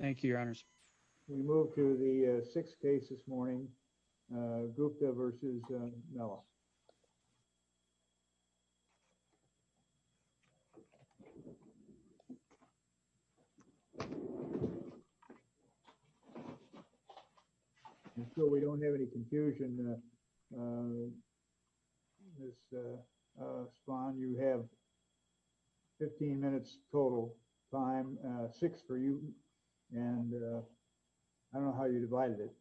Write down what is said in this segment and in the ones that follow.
Thank you, Your Honors. We move to the sixth case this morning, Gupta v. Melloh. And so we don't have any confusion, Ms. Spahn. You have 15 minutes total time, six for you. And I don't know how you divided it.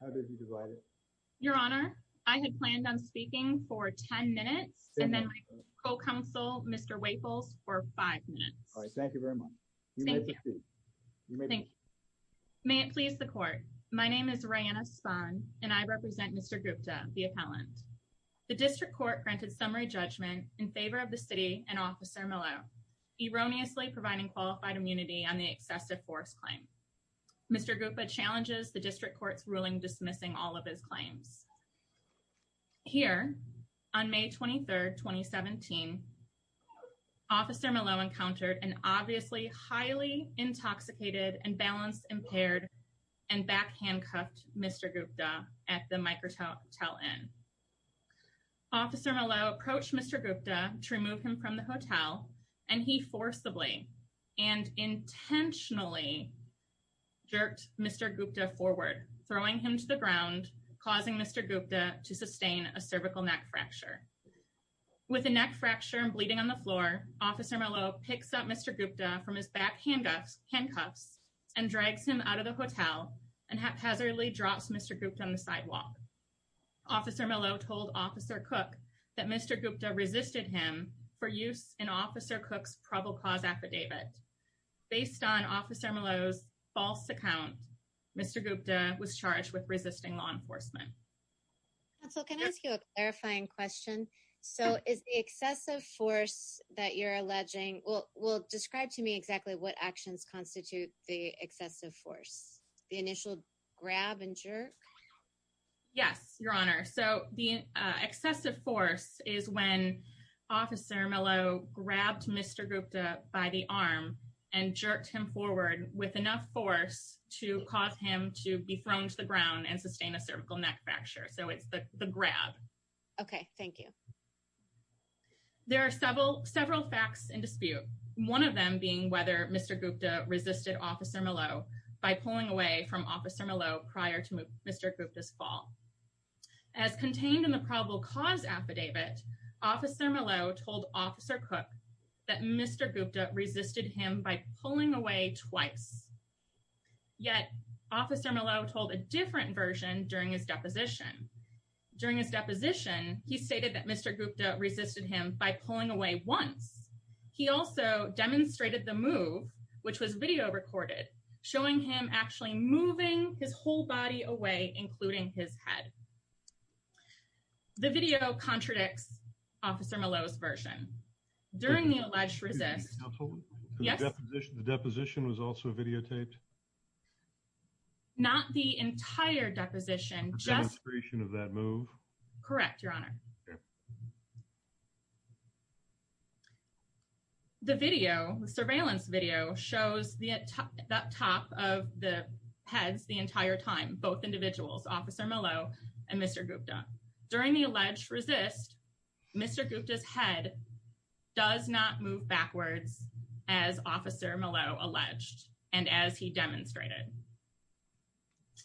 How did you divide it? Your Honor, I had planned on speaking for 10 minutes, and then my co-counsel, Mr. Waples, for five minutes. All right. Thank you very much. Thank you. May it please the Court. My name is Rayanna Spahn, and I represent Mr. Gupta, the appellant. The District Court granted summary judgment in favor of the City and Officer Melloh, erroneously providing qualified immunity on the excessive force claim. Mr. Gupta challenges the Here, on May 23, 2017, Officer Melloh encountered an obviously highly intoxicated and balance-impaired and back-handcuffed Mr. Gupta at the Microtel Inn. Officer Melloh approached Mr. Gupta to remove him from the hotel, and he forcibly and intentionally jerked Mr. Gupta forward, throwing him to the ground, causing Mr. Gupta to sustain a cervical neck fracture. With a neck fracture and bleeding on the floor, Officer Melloh picks up Mr. Gupta from his back handcuffs and drags him out of the hotel and haphazardly drops Mr. Gupta on the sidewalk. Officer Melloh told Officer Cook that Mr. Gupta resisted him for use in Officer Cook's affidavit. Based on Officer Melloh's false account, Mr. Gupta was charged with resisting law enforcement. Counsel, can I ask you a clarifying question? So, is the excessive force that you're alleging, well, describe to me exactly what actions constitute the excessive force, the initial grab and jerk? Yes, Your Honor. So, the excessive force is when Officer Melloh grabbed Mr. Gupta by the arm and jerked him forward with enough force to cause him to be thrown to the ground and sustain a cervical neck fracture. So, it's the grab. Okay, thank you. There are several facts in dispute, one of them being whether Mr. Gupta resisted Officer Melloh by pulling away from Officer Melloh prior to Mr. Gupta's fall. As contained in the probable cause affidavit, Officer Melloh told Officer Cook that Mr. Gupta resisted him by pulling away twice. Yet, Officer Melloh told a different version during his deposition. During his deposition, he stated that Mr. Gupta resisted him by pulling away once. He also demonstrated the move, which was video recorded, showing him actually moving his whole body away, including his head. The video contradicts Officer Melloh's version. During the alleged resist... Absolutely. Yes? The deposition was also videotaped? Not the entire deposition, just... A demonstration of that move? Correct, Your Honor. The video, the surveillance video, shows that top of the heads the entire time, both individuals, Officer Melloh and Mr. Gupta. During the alleged resist, Mr. Gupta's head does not move backwards as Officer Melloh alleged and as he demonstrated.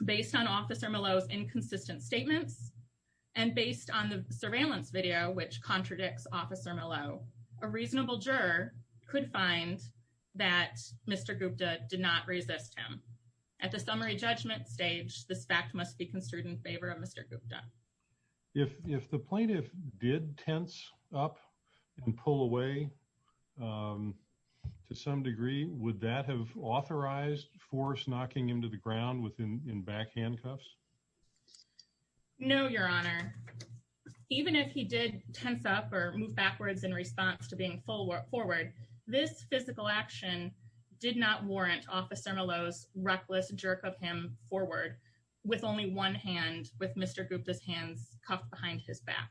Based on Officer Melloh's inconsistent statements and based on the surveillance video, which contradicts Officer Melloh, a reasonable juror could find that Mr. Gupta did not resist him. At the summary judgment stage, this fact must be construed in favor of Mr. Gupta. If the plaintiff did tense up and pull away to some degree, would that have authorized force knocking him to the ground in back handcuffs? No, Your Honor. Even if he did tense up or move backwards in response to being forward, this physical action did not warrant Officer Melloh's reckless jerk of him forward with only one hand, with Mr. Gupta's hands cuffed behind his back.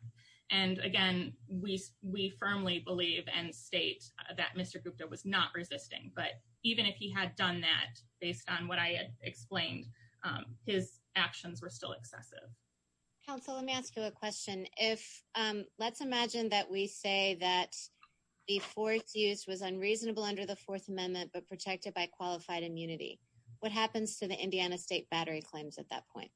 And again, we firmly believe and state that Mr. Gupta was not resisting, but even if he had done that, based on what I had explained, his actions were still excessive. Counsel, let me ask you a question. Let's imagine that we say that the fourth use was unreasonable under the Fourth Amendment, but protected by qualified immunity. What happens to the Indiana State battery claims at that point?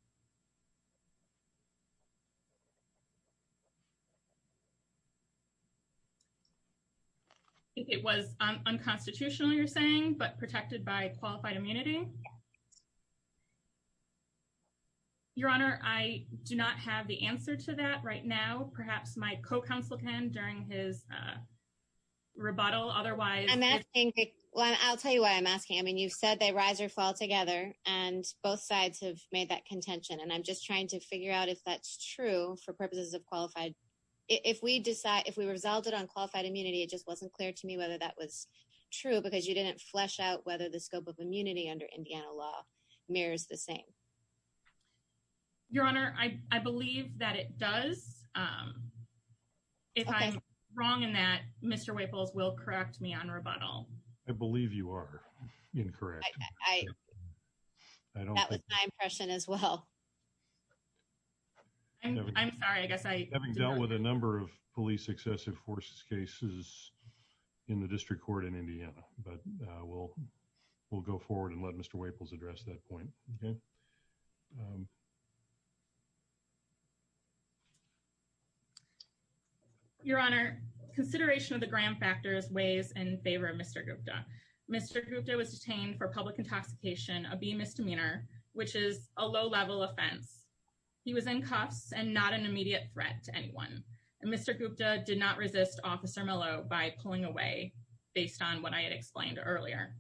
It was unconstitutional, you're saying, but protected by qualified immunity? Your Honor, I do not have the answer to that right now. Perhaps my co-counsel can during his rebuttal. Otherwise, I'm asking, well, I'll tell you why I'm asking. I mean, you've said they rise or fall together, and both sides have made that contention. And I'm just trying to figure out if that's true for purposes of qualified. If we decide if we resulted on qualified immunity, it just wasn't clear to me whether that was true, because you didn't flesh out whether the scope of immunity under Indiana law mirrors the same. Your Honor, I believe that it does. If I'm wrong in that, Mr. Waples will correct me on rebuttal. I believe you are incorrect. That was my impression as well. I'm sorry, I guess I haven't dealt with a number of police excessive forces cases in the district court in Indiana. But we'll go forward and let Mr. Waples address that point. Your Honor, consideration of the Graham factors weighs in favor of Mr. Gupta. Mr. Gupta was detained for public intoxication, a B misdemeanor, which is a low level offense. He was in cuffs and not an immediate threat to anyone. And Mr. Gupta did not resist Officer Mello by pulling away, based on what I had explained earlier.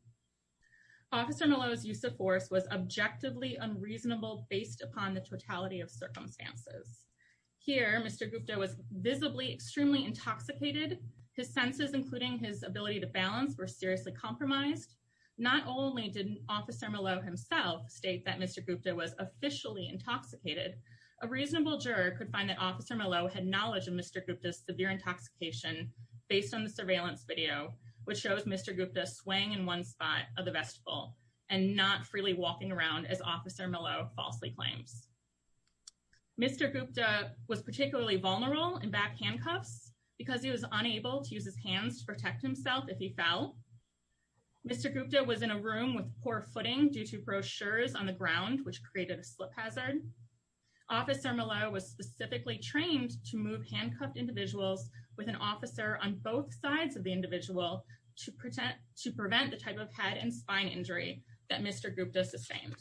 Officer Mello's use of force was objectively unreasonable based upon the totality of circumstances. Here, Mr. Gupta was visibly extremely intoxicated. His senses, including his ability to balance, were seriously compromised. Not only did Officer Mello himself state that Mr. Gupta was officially intoxicated, a reasonable juror could find that Officer Mello had knowledge of Mr. Gupta's severe intoxication based on the surveillance video, which shows Mr. Gupta swaying in one spot of the vestibule and not freely walking around as Officer Mello falsely claims. Mr. Gupta was particularly vulnerable in back handcuffs because he was unable to use his hands to protect himself if he fell. Mr. Gupta was in a room with poor footing due to brochures on the ground, which created a slip hazard. Officer Mello was specifically trained to move handcuffed individuals with an officer on both sides of the individual to prevent the type of head and spine injury that Mr. Gupta sustained.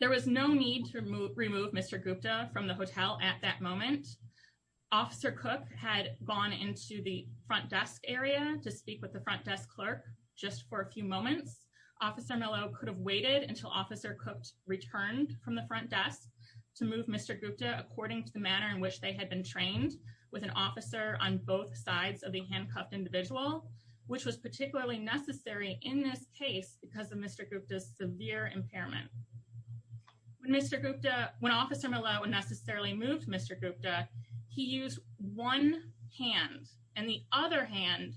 There was no need to remove Mr. Gupta from the hotel at that moment. Officer Cook had gone into the front desk area to speak with the front desk clerk just for a few moments. Officer Mello could have waited until Officer Cook returned from the front desk to move Mr. Gupta according to the manner in which they had been trained with an officer on both sides of the handcuffed individual, which was particularly necessary in this case because of Mr. Gupta's severe impairment. When Officer Mello unnecessarily moved Mr. Gupta, he used one hand and the other hand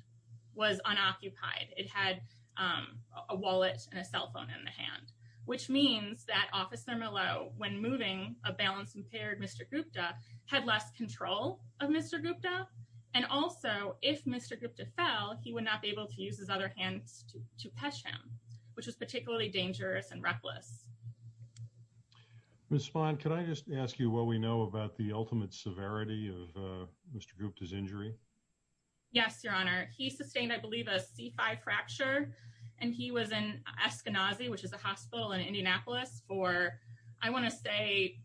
was unoccupied. It had a wallet and a cell phone in the hand, which means that Officer Mello, when moving a balance-impaired Mr. Gupta, had less control of Mr. Gupta. And also, if Mr. Gupta fell, he would not be able to use his other hands to catch him, which was particularly dangerous and reckless. Ms. Spahn, can I just ask you what we know about the ultimate severity of Mr. Gupta's injury? Yes, Your Honor. He sustained, I believe, a C5 fracture and he was in Eskenazi, which is a hospital in Indianapolis, for, I want to say,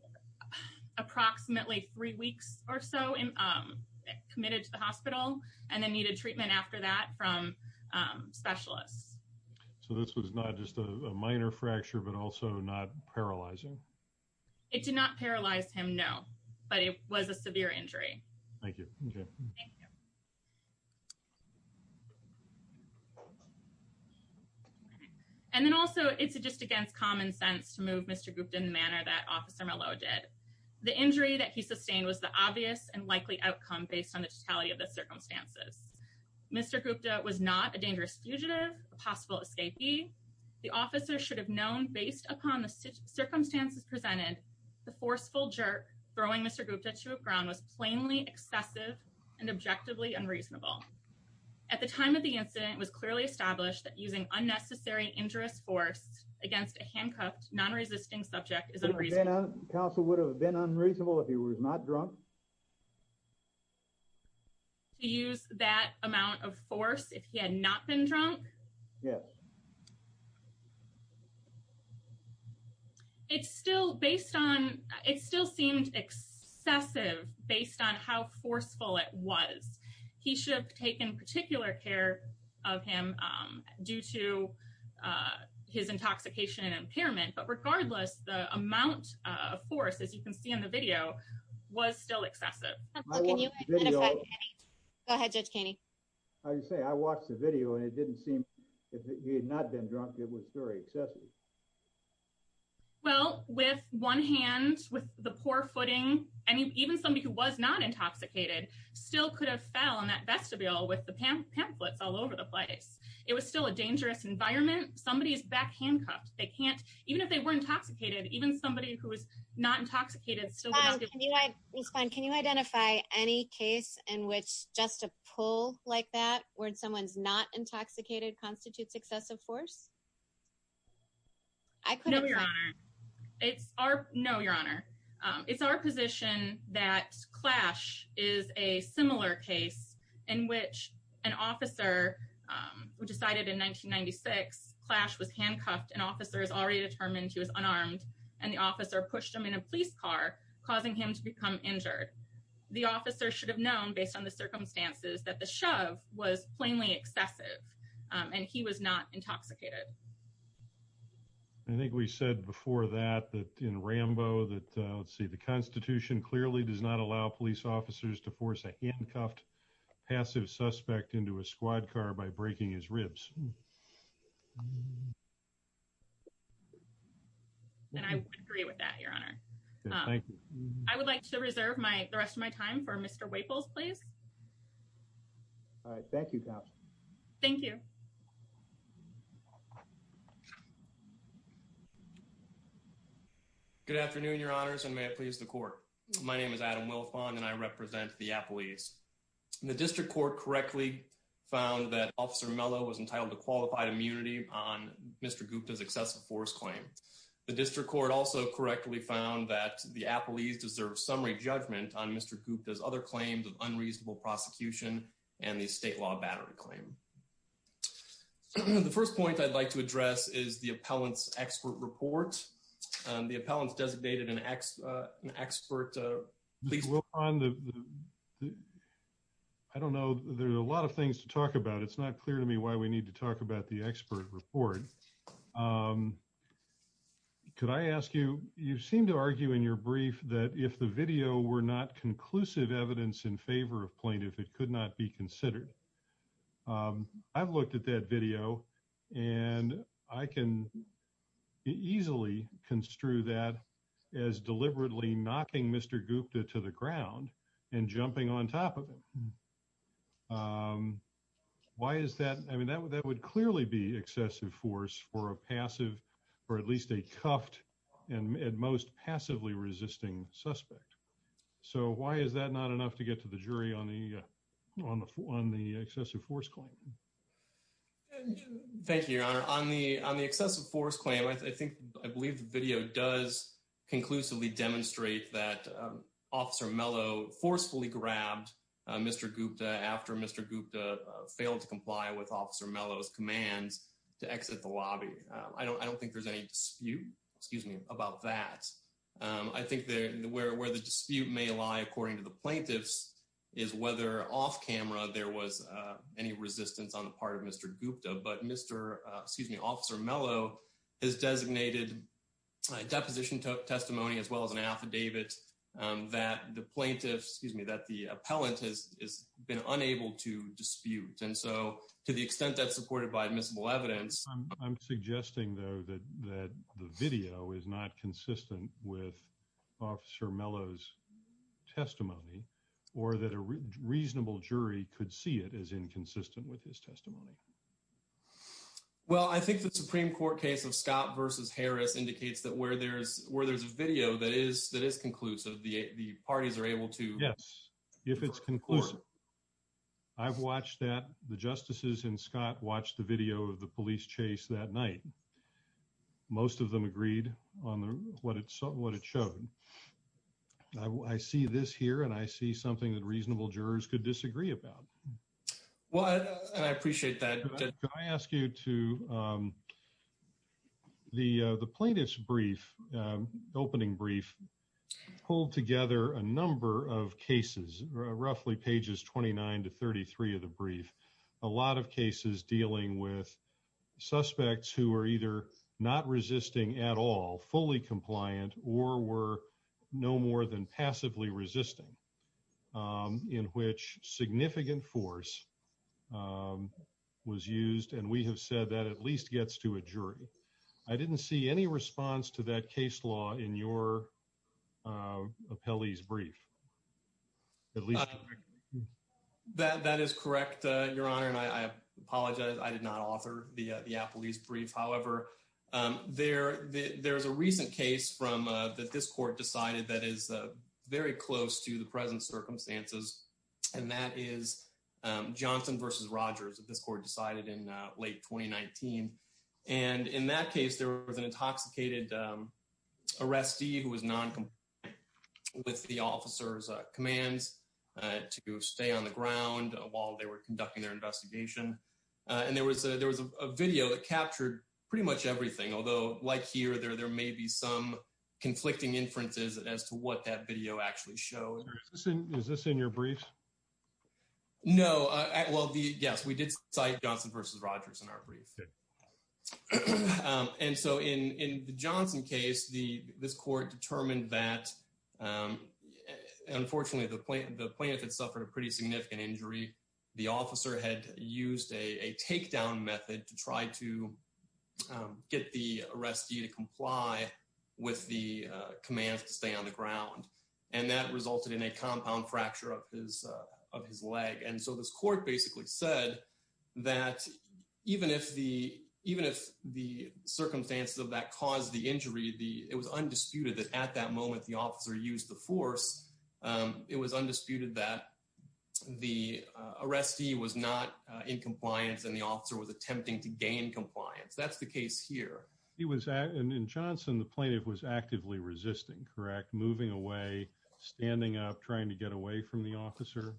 approximately three weeks or so committed to the hospital and then needed treatment after that from specialists. So this was not just a minor fracture but also not paralyzing? It did not paralyze him, no, but it was a severe injury. Thank you. And then also, it's just against common sense to move Mr. Gupta in the manner that Officer Mello did. The injury that he sustained was the obvious and likely outcome based on the totality of the circumstances. Mr. Gupta was not a dangerous fugitive, a possible escapee. The officer should have known, based upon the circumstances presented, the forceful jerk throwing Mr. Gupta to the ground was plainly excessive and objectively unreasonable. At the time of the incident, it was clearly established that using unnecessary and injurious force against a handcuffed, non-resisting subject is unreasonable. Counsel would have been unreasonable if he was not drunk? To use that amount of force if he had not been drunk? Yes. It's still based on, it still seemed excessive based on how forceful it was. He should have taken particular care of him due to his intoxication and impairment. But regardless, the amount of force, as you can see in the video, was still excessive. Can you identify Kenny? Go ahead, Judge Kenny. I was going to say, I watched the video and it didn't seem if he had not been drunk, it was very excessive. Well, with one hand, with the poor footing, and even somebody who was not intoxicated, still could have fell on that vestibule with the pamphlets all over the place. It was still a dangerous environment. Somebody's back handcuffed. They can't, even if they were intoxicated, even somebody who was not intoxicated. Can you identify any case in which just a pull like that where someone's not intoxicated constitutes excessive force? No, Your Honor. It's our, no, Your Honor. It's our position that Clash is a similar case in which an officer decided in 1996, Clash was handcuffed and officers already determined he was unarmed. And the officer pushed him in a police car, causing him to become injured. The officer should have known based on the circumstances that the shove was plainly and he was not intoxicated. I think we said before that, that in Rambo, that let's see, the constitution clearly does not allow police officers to force a handcuffed passive suspect into a squad car by breaking his ribs. And I agree with that, Your Honor. I would like to reserve my, the rest of my time for Mr. Waples, please. All right. Thank you. Thank you. Good afternoon, Your Honors. And may it please the court. My name is Adam Wilfond and I represent the Apple East. The district court correctly found that officer Mello was entitled to qualified immunity on Mr. Gupta's excessive force claim. The district court also correctly found that the Apple East deserves summary judgment on Mr. Gupta's claims of unreasonable prosecution and the state law battery claim. The first point I'd like to address is the appellant's expert report. The appellant's designated an expert. I don't know. There's a lot of things to talk about. It's not clear to me why we need to talk about the expert report. Could I ask you, you seem to argue in your brief that if the video were not conclusive evidence in favor of plaintiff, it could not be considered. I've looked at that video and I can easily construe that as deliberately knocking Mr. Gupta to the ground and jumping on top of him. Why is that? I mean, that would clearly be excessive force for a passive or at least a cuffed and at most passively resisting suspect. So why is that not enough to get to the jury on the excessive force claim? Thank you, your honor. On the excessive force claim, I believe the video does conclusively demonstrate that officer Mello forcefully grabbed Mr. Gupta after Mr. Gupta failed to comply with officer Mello's commands to exit the lobby. I don't think there's any dispute, excuse me, about that. I think where the dispute may lie, according to the plaintiffs, is whether off camera there was any resistance on the part of Mr. Gupta. But officer Mello has designated a deposition testimony as well as an affidavit that the plaintiffs, excuse me, the appellant has been unable to dispute. And so to the extent that's supported by admissible evidence. I'm suggesting though that the video is not consistent with officer Mello's testimony or that a reasonable jury could see it as inconsistent with his testimony. Well, I think the Supreme Court case of Scott versus Harris indicates that where there's video that is conclusive, the parties are able to- Yes, if it's conclusive. I've watched that. The justices in Scott watched the video of the police chase that night. Most of them agreed on what it showed. I see this here and I see something that reasonable jurors could disagree about. Well, I appreciate that. Can I ask you to, the plaintiff's opening brief pulled together a number of cases, roughly pages 29 to 33 of the brief. A lot of cases dealing with suspects who are either not resisting at all, fully compliant or were no more than passively resisting in which significant force was used. And we have said that at least gets to a jury. I didn't see any response to that case law in your appellee's brief, at least- That is correct, Your Honor. And I apologize. I did not author the appellee's brief. However, there's a recent case that this court decided that is very close to the present circumstances. And that is Johnson versus Rogers that this court decided in late 2019. And in that case, there was an intoxicated arrestee who was non-compliant with the officer's commands to stay on the ground while they were conducting their investigation. And there was a video that captured pretty much everything. Although like here, there may be some that video actually showed. Is this in your brief? No. Well, yes, we did cite Johnson versus Rogers in our brief. And so in the Johnson case, this court determined that, unfortunately, the plaintiff had suffered a pretty significant injury. The officer had used a takedown method to try to get the arrestee to comply with the commands to stay on the ground. And that resulted in a compound fracture of his leg. And so this court basically said that even if the circumstances of that caused the injury, it was undisputed that at that moment, the officer used the force. It was undisputed that the arrestee was not in compliance and the officer was attempting to gain compliance. That's the case here. And in Johnson, the plaintiff was actively resisting, correct? Moving away, standing up, trying to get away from the officer?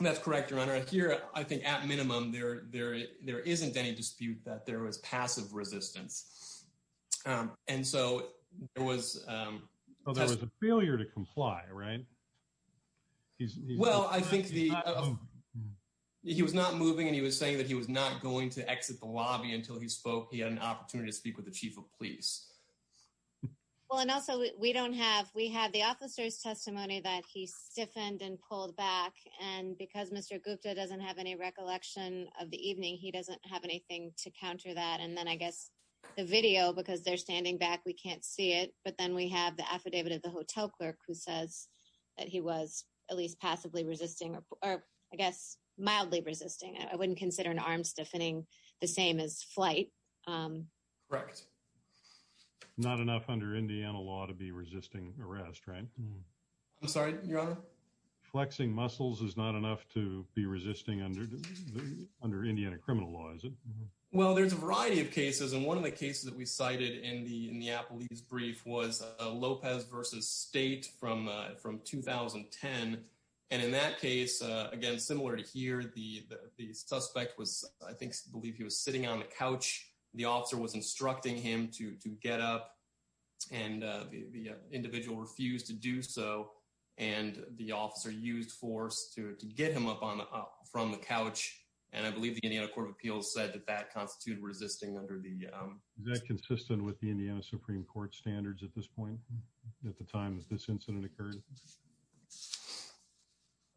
That's correct, Your Honor. Here, I think at minimum, there isn't any dispute that there was passive resistance. And so there was... Well, there was a failure to comply, right? Well, I think he was not moving and he was saying that he was not going to exit the lobby until he spoke. He had an opportunity to speak with the chief of police. Well, and also we have the officer's testimony that he stiffened and pulled back. And because Mr. Gupta doesn't have any counter that. And then I guess the video, because they're standing back, we can't see it. But then we have the affidavit of the hotel clerk who says that he was at least passively resisting, or I guess mildly resisting. I wouldn't consider an arm stiffening the same as flight. Correct. Not enough under Indiana law to be resisting arrest, right? I'm sorry, Your Honor? Flexing muscles is not enough to be resisting under Indiana criminal law, is it? Well, there's a variety of cases. And one of the cases that we cited in the police brief was Lopez versus State from 2010. And in that case, again, similar to here, the suspect was, I think, I believe he was sitting on the couch. The officer was instructing him to get up and the individual refused to do so. And the officer used force to get him up from the couch. And I believe the Indiana Court of Appeals said that that constituted resisting under the... Is that consistent with the Indiana Supreme Court standards at this point, at the time that this incident occurred?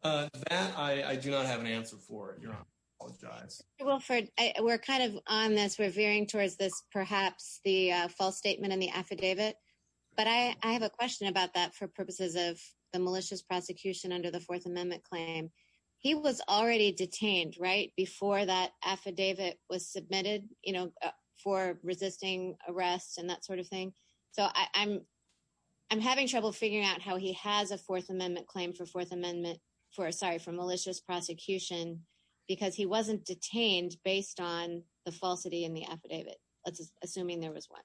That I do not have an answer for, Your Honor. I apologize. Wilford, we're kind of on this. We're veering towards this, perhaps the false statement in the affidavit. But I have a question about that for purposes of the malicious prosecution under the Fourth Amendment claim. He was already detained, right, before that affidavit was submitted for resisting arrest and that sort of thing. So I'm having trouble figuring out how he has a Fourth Amendment claim for a malicious prosecution because he wasn't detained based on the falsity in the affidavit, assuming there was one.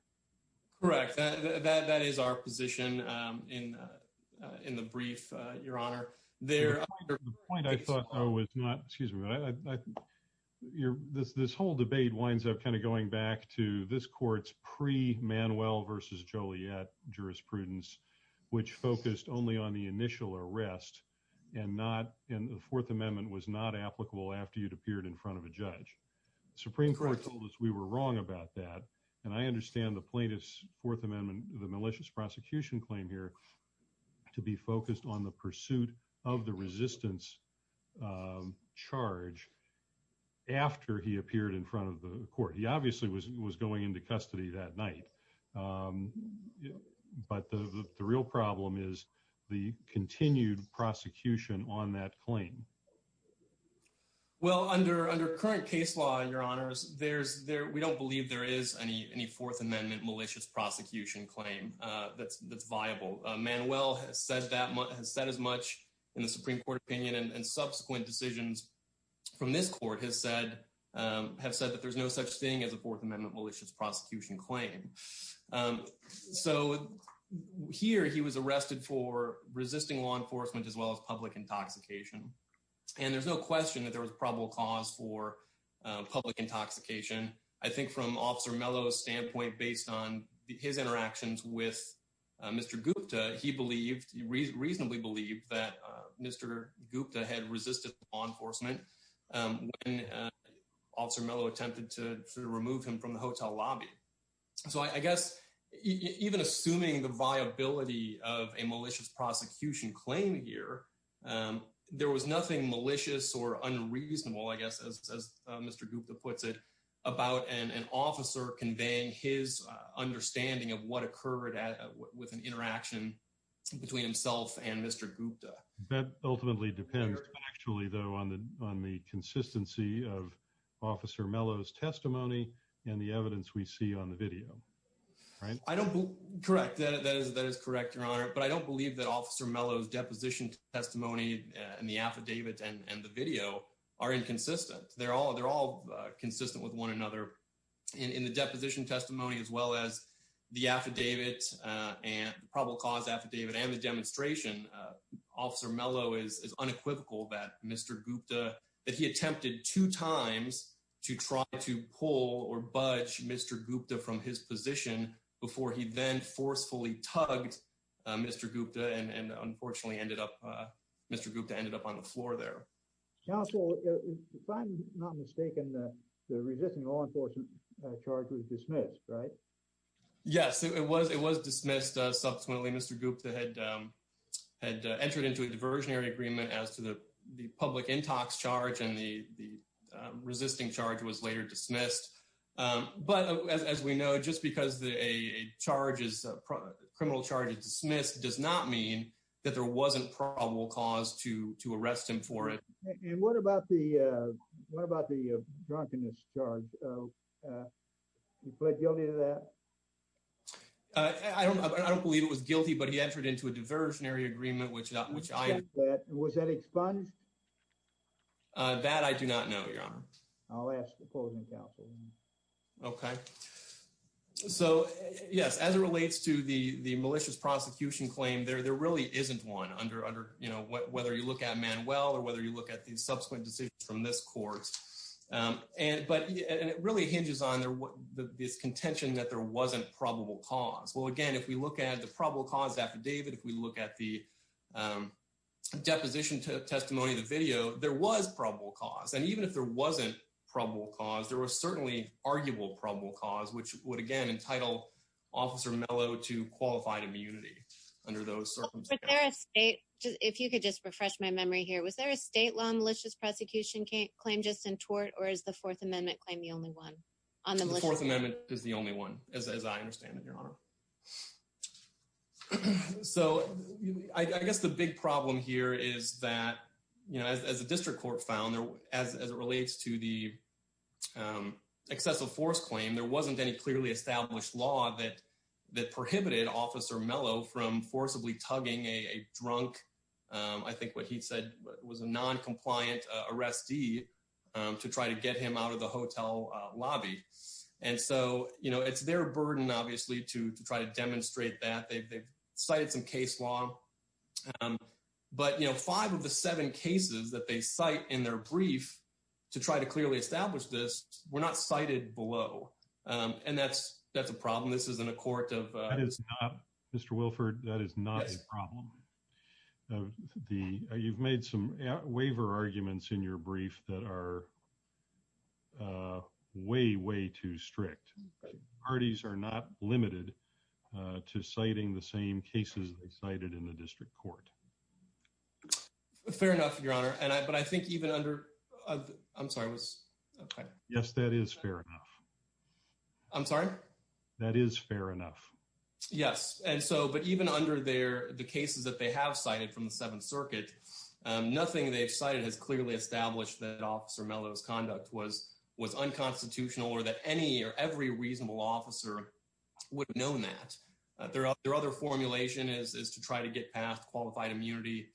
Correct. That is our position in the court. The point I thought though was not... Excuse me. This whole debate winds up kind of going back to this court's pre-Manuel versus Joliet jurisprudence, which focused only on the initial arrest and the Fourth Amendment was not applicable after you'd appeared in front of a judge. The Supreme Court told us we were wrong about that. And I understand the plaintiff's Fourth Amendment, the malicious prosecution claim here to be focused on the pursuit of the resistance charge after he appeared in front of the court. He obviously was going into custody that night. But the real problem is the continued prosecution on that claim. Well, under current case law, Your Honors, we don't believe there is any Fourth Amendment malicious prosecution claim that's viable. Manuel has said as much in the Supreme Court opinion and subsequent decisions from this court have said that there's no such thing as a Fourth Amendment malicious prosecution claim. So here he was arrested for resisting law enforcement as well as public intoxication. And there's no question that there was probable cause for public intoxication. I think from Officer Mello's standpoint, based on his interactions with Mr. Gupta, he reasonably believed that Mr. Gupta had resisted law enforcement when Officer Mello attempted to remove him from the hotel lobby. So I guess even assuming the viability of a malicious prosecution claim here, there was nothing malicious or unreasonable, I guess as Mr. Gupta puts it, about an officer conveying his understanding of what occurred with an interaction between himself and Mr. Gupta. That ultimately depends actually though on the on the consistency of Officer Mello's testimony and the evidence we see on the video, right? Correct, that is correct, Your Honor. But I don't believe that Officer Mello's deposition testimony and the one another in the deposition testimony as well as the affidavit and probable cause affidavit and the demonstration, Officer Mello is unequivocal that Mr. Gupta, that he attempted two times to try to pull or budge Mr. Gupta from his position before he then forcefully tugged Mr. Gupta and unfortunately ended up, Mr. Gupta ended up on the floor there. Counsel, if I'm not mistaken, the resisting law enforcement charge was dismissed, right? Yes, it was dismissed subsequently, Mr. Gupta had entered into a diversionary agreement as to the public intox charge and the resisting charge was later dismissed. But as we know, just because a criminal charge is dismissed does not mean that there wasn't probable cause to arrest him for it. And what about the drunkenness charge? He pled guilty to that? I don't believe it was guilty, but he entered into a diversionary agreement. Was that expunged? That I do not know, Your Honor. I'll ask the opposing counsel. Okay, so yes, as it relates to the malicious prosecution claim, there really isn't one under, you know, whether you look at Manuel or whether you look at the subsequent decisions from this court. But it really hinges on this contention that there wasn't probable cause. Well, again, if we look at the probable cause affidavit, if we look at the deposition testimony, the video, there was probable cause. And even if there wasn't probable cause, there was certainly arguable probable cause, which would, again, entitle Officer Mello to qualified immunity under those circumstances. But if you could just refresh my memory here, was there a state law malicious prosecution claim just in tort, or is the Fourth Amendment claim the only one? The Fourth Amendment is the only one, as I understand it, Your Honor. So I guess the big problem here is that, you know, as the district court found, as it relates to the excessive force claim, there wasn't any clearly established law that prohibited Officer Mello from forcibly tugging a drunk, I think what he said, was a noncompliant arrestee to try to get him out of the hotel lobby. And so, you know, it's their burden, obviously, to try to demonstrate that. They've cited some case law. But, you know, five of the seven cases that they cite in their brief to try to clearly establish this, were not cited below. And that's, that's a problem. This isn't a court of... That is not, Mr. Wilford, that is not a problem. You've made some waiver arguments in your brief that are way, way too strict. Parties are not limited to citing the same cases they cited in the district court. Fair enough, Your Honor. And I, but I think even under, I'm sorry, I was... Yes, that is fair enough. I'm sorry? That is fair enough. Yes. And so, but even under their, the cases that they have cited from the Seventh Circuit, nothing they've cited has clearly established that Officer Mello's conduct was, was unconstitutional or that any or every reasonable officer would have known that. Their other formulation is, is to try to get past qualified immunity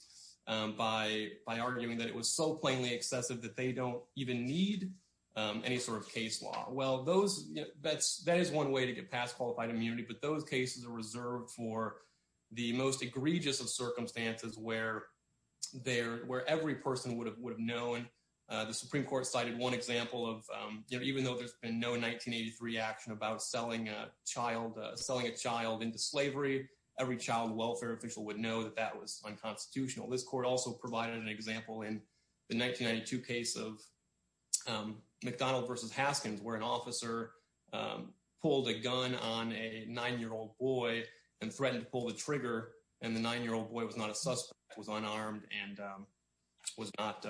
by, by arguing that it was so plainly excessive that they don't even need any sort of case law. Well, those, that's, that is one way to get past qualified immunity. But those cases are reserved for the most egregious of circumstances where they're, where every person would have, would have known. The Supreme Court cited one example of, you know, even though there's been no 1983 reaction about selling a child, selling a child into slavery, every child welfare official would know that that was unconstitutional. This court also provided an example in the 1992 case of McDonald versus Haskins, where an officer pulled a gun on a nine-year-old boy and threatened to pull the trigger. And the nine-year-old boy was not a suspect, was unarmed and was not,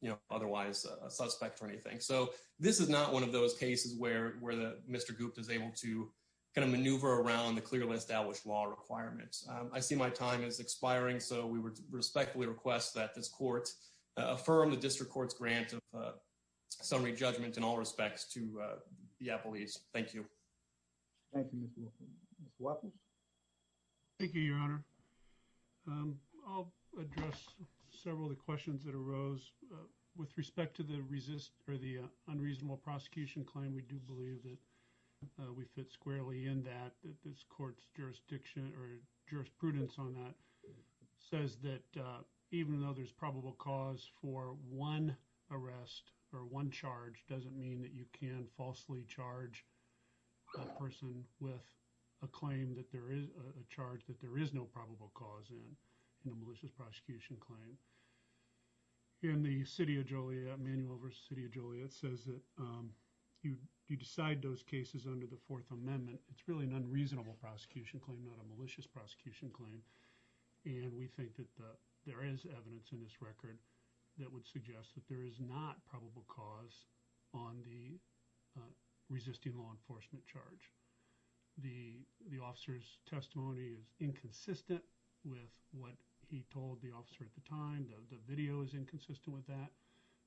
you know, otherwise a suspect or anything. So this is not one of those cases where, where the, Mr. Gupta is able to kind of maneuver around the clearly established law requirements. I see my time is expiring, so we respectfully request that this court affirm the district court's grant of summary judgment in all respects to the Apple East. Thank you. Thank you, Mr. Wilkins. Mr. Watkins? Thank you, Your Honor. I'll address several of the questions that arose. With respect to the resist, or the unreasonable prosecution claim, we do believe that we fit squarely in that, that this court's jurisdiction or jurisprudence on that says that even though there's probable cause for one arrest or one charge doesn't mean that you can falsely charge a person with a claim that there is a charge that there is no probable cause in, in a malicious prosecution claim. In the City of Joliet, manual versus City of Joliet, says that you, you decide those cases under the Fourth Amendment. It's really an unreasonable prosecution claim, not a malicious prosecution claim. And we think that the, there is evidence in this record that would suggest that there is not probable cause on the resisting law enforcement charge. The, the officer's testimony is inconsistent with what he told the officer at the time. The video is inconsistent with that.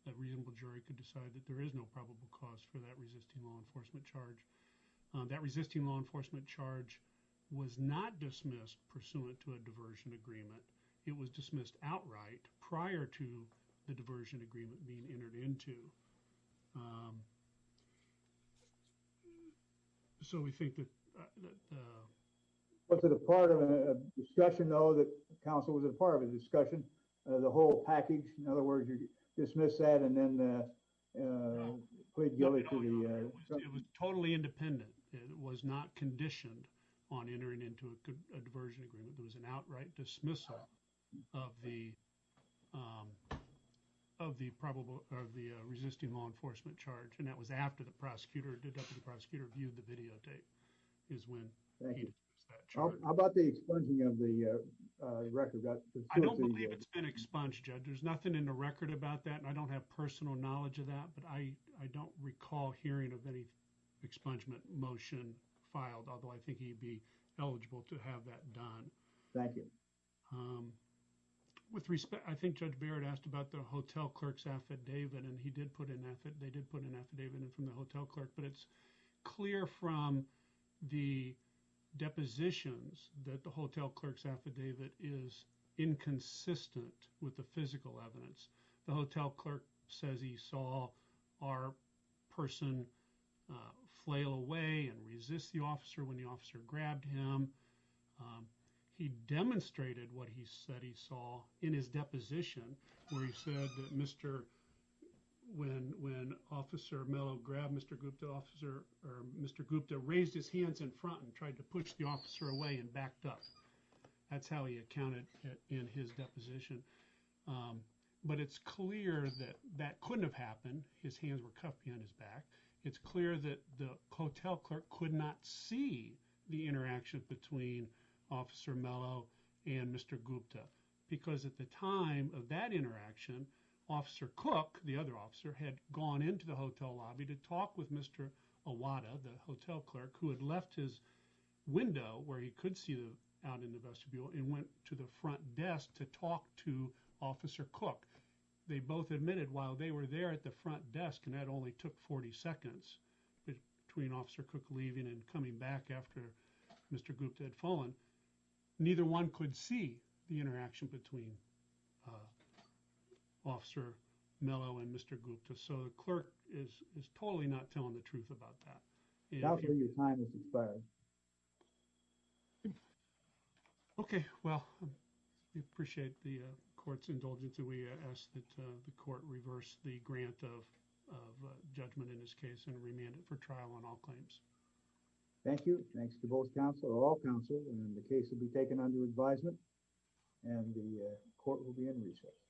A reasonable jury could decide that there is no probable cause for that resisting law enforcement charge. That resisting law enforcement charge was not dismissed pursuant to a diversion agreement. It was dismissed outright prior to the diversion agreement being entered into. So we think that, that, uh... Was it a part of a discussion, though, that counsel, was it a part of a discussion, uh, the whole package? In other words, you dismiss that and then, uh, uh, plead guilty to the, uh... It was totally independent. It was not conditioned on entering into a diversion agreement. There was an outright dismissal of the, um, of the probable, of the resisting law enforcement charge. And that was after the prosecutor, deductive prosecutor viewed the video tape, is when he dismissed that charge. How about the expunging of the, uh, uh, record? I don't believe it's been expunged, Judge. There's nothing in the record about that, and I don't have personal knowledge of that, but I, I don't recall hearing of any expungement motion filed, although I think he'd be eligible to have that done. Thank you. Um, with respect, I think Judge Barrett asked about the hotel clerk's affidavit, and he did put an affidavit, they did put an affidavit in from the hotel clerk, but it's from the depositions that the hotel clerk's affidavit is inconsistent with the physical evidence. The hotel clerk says he saw our person, uh, flail away and resist the officer when the officer grabbed him. Um, he demonstrated what he said he saw in his deposition, where he said that when, when Officer Mello grabbed Mr. Gupta, Officer, or Mr. Gupta raised his hands in front and tried to push the officer away and backed up. That's how he accounted in his deposition. But it's clear that that couldn't have happened. His hands were cuffed behind his back. It's clear that the hotel clerk could not see the interaction between Officer Mello and Mr. Gupta, because at the time of that interaction, Officer Cook, the other officer, had gone into the hotel lobby to talk with Mr. Awada, the hotel clerk, who had left his window where he could see out in the vestibule and went to the front desk to talk to Officer Cook. They both admitted while they were there at the front desk, and that only took 40 seconds between Officer Cook leaving and coming back after Mr. Gupta had fallen. Neither one could see the interaction between, uh, Officer Mello and Mr. Gupta. So the clerk is, is totally not telling the truth about that. And your time has expired. Okay, well, we appreciate the court's indulgence, and we ask that the court reverse the grant of, of judgment in this case and remand it for trial on all claims. Thank you. Thanks to both counsel, all counsel, and the case will be taken under advisement, and the court will be in recess.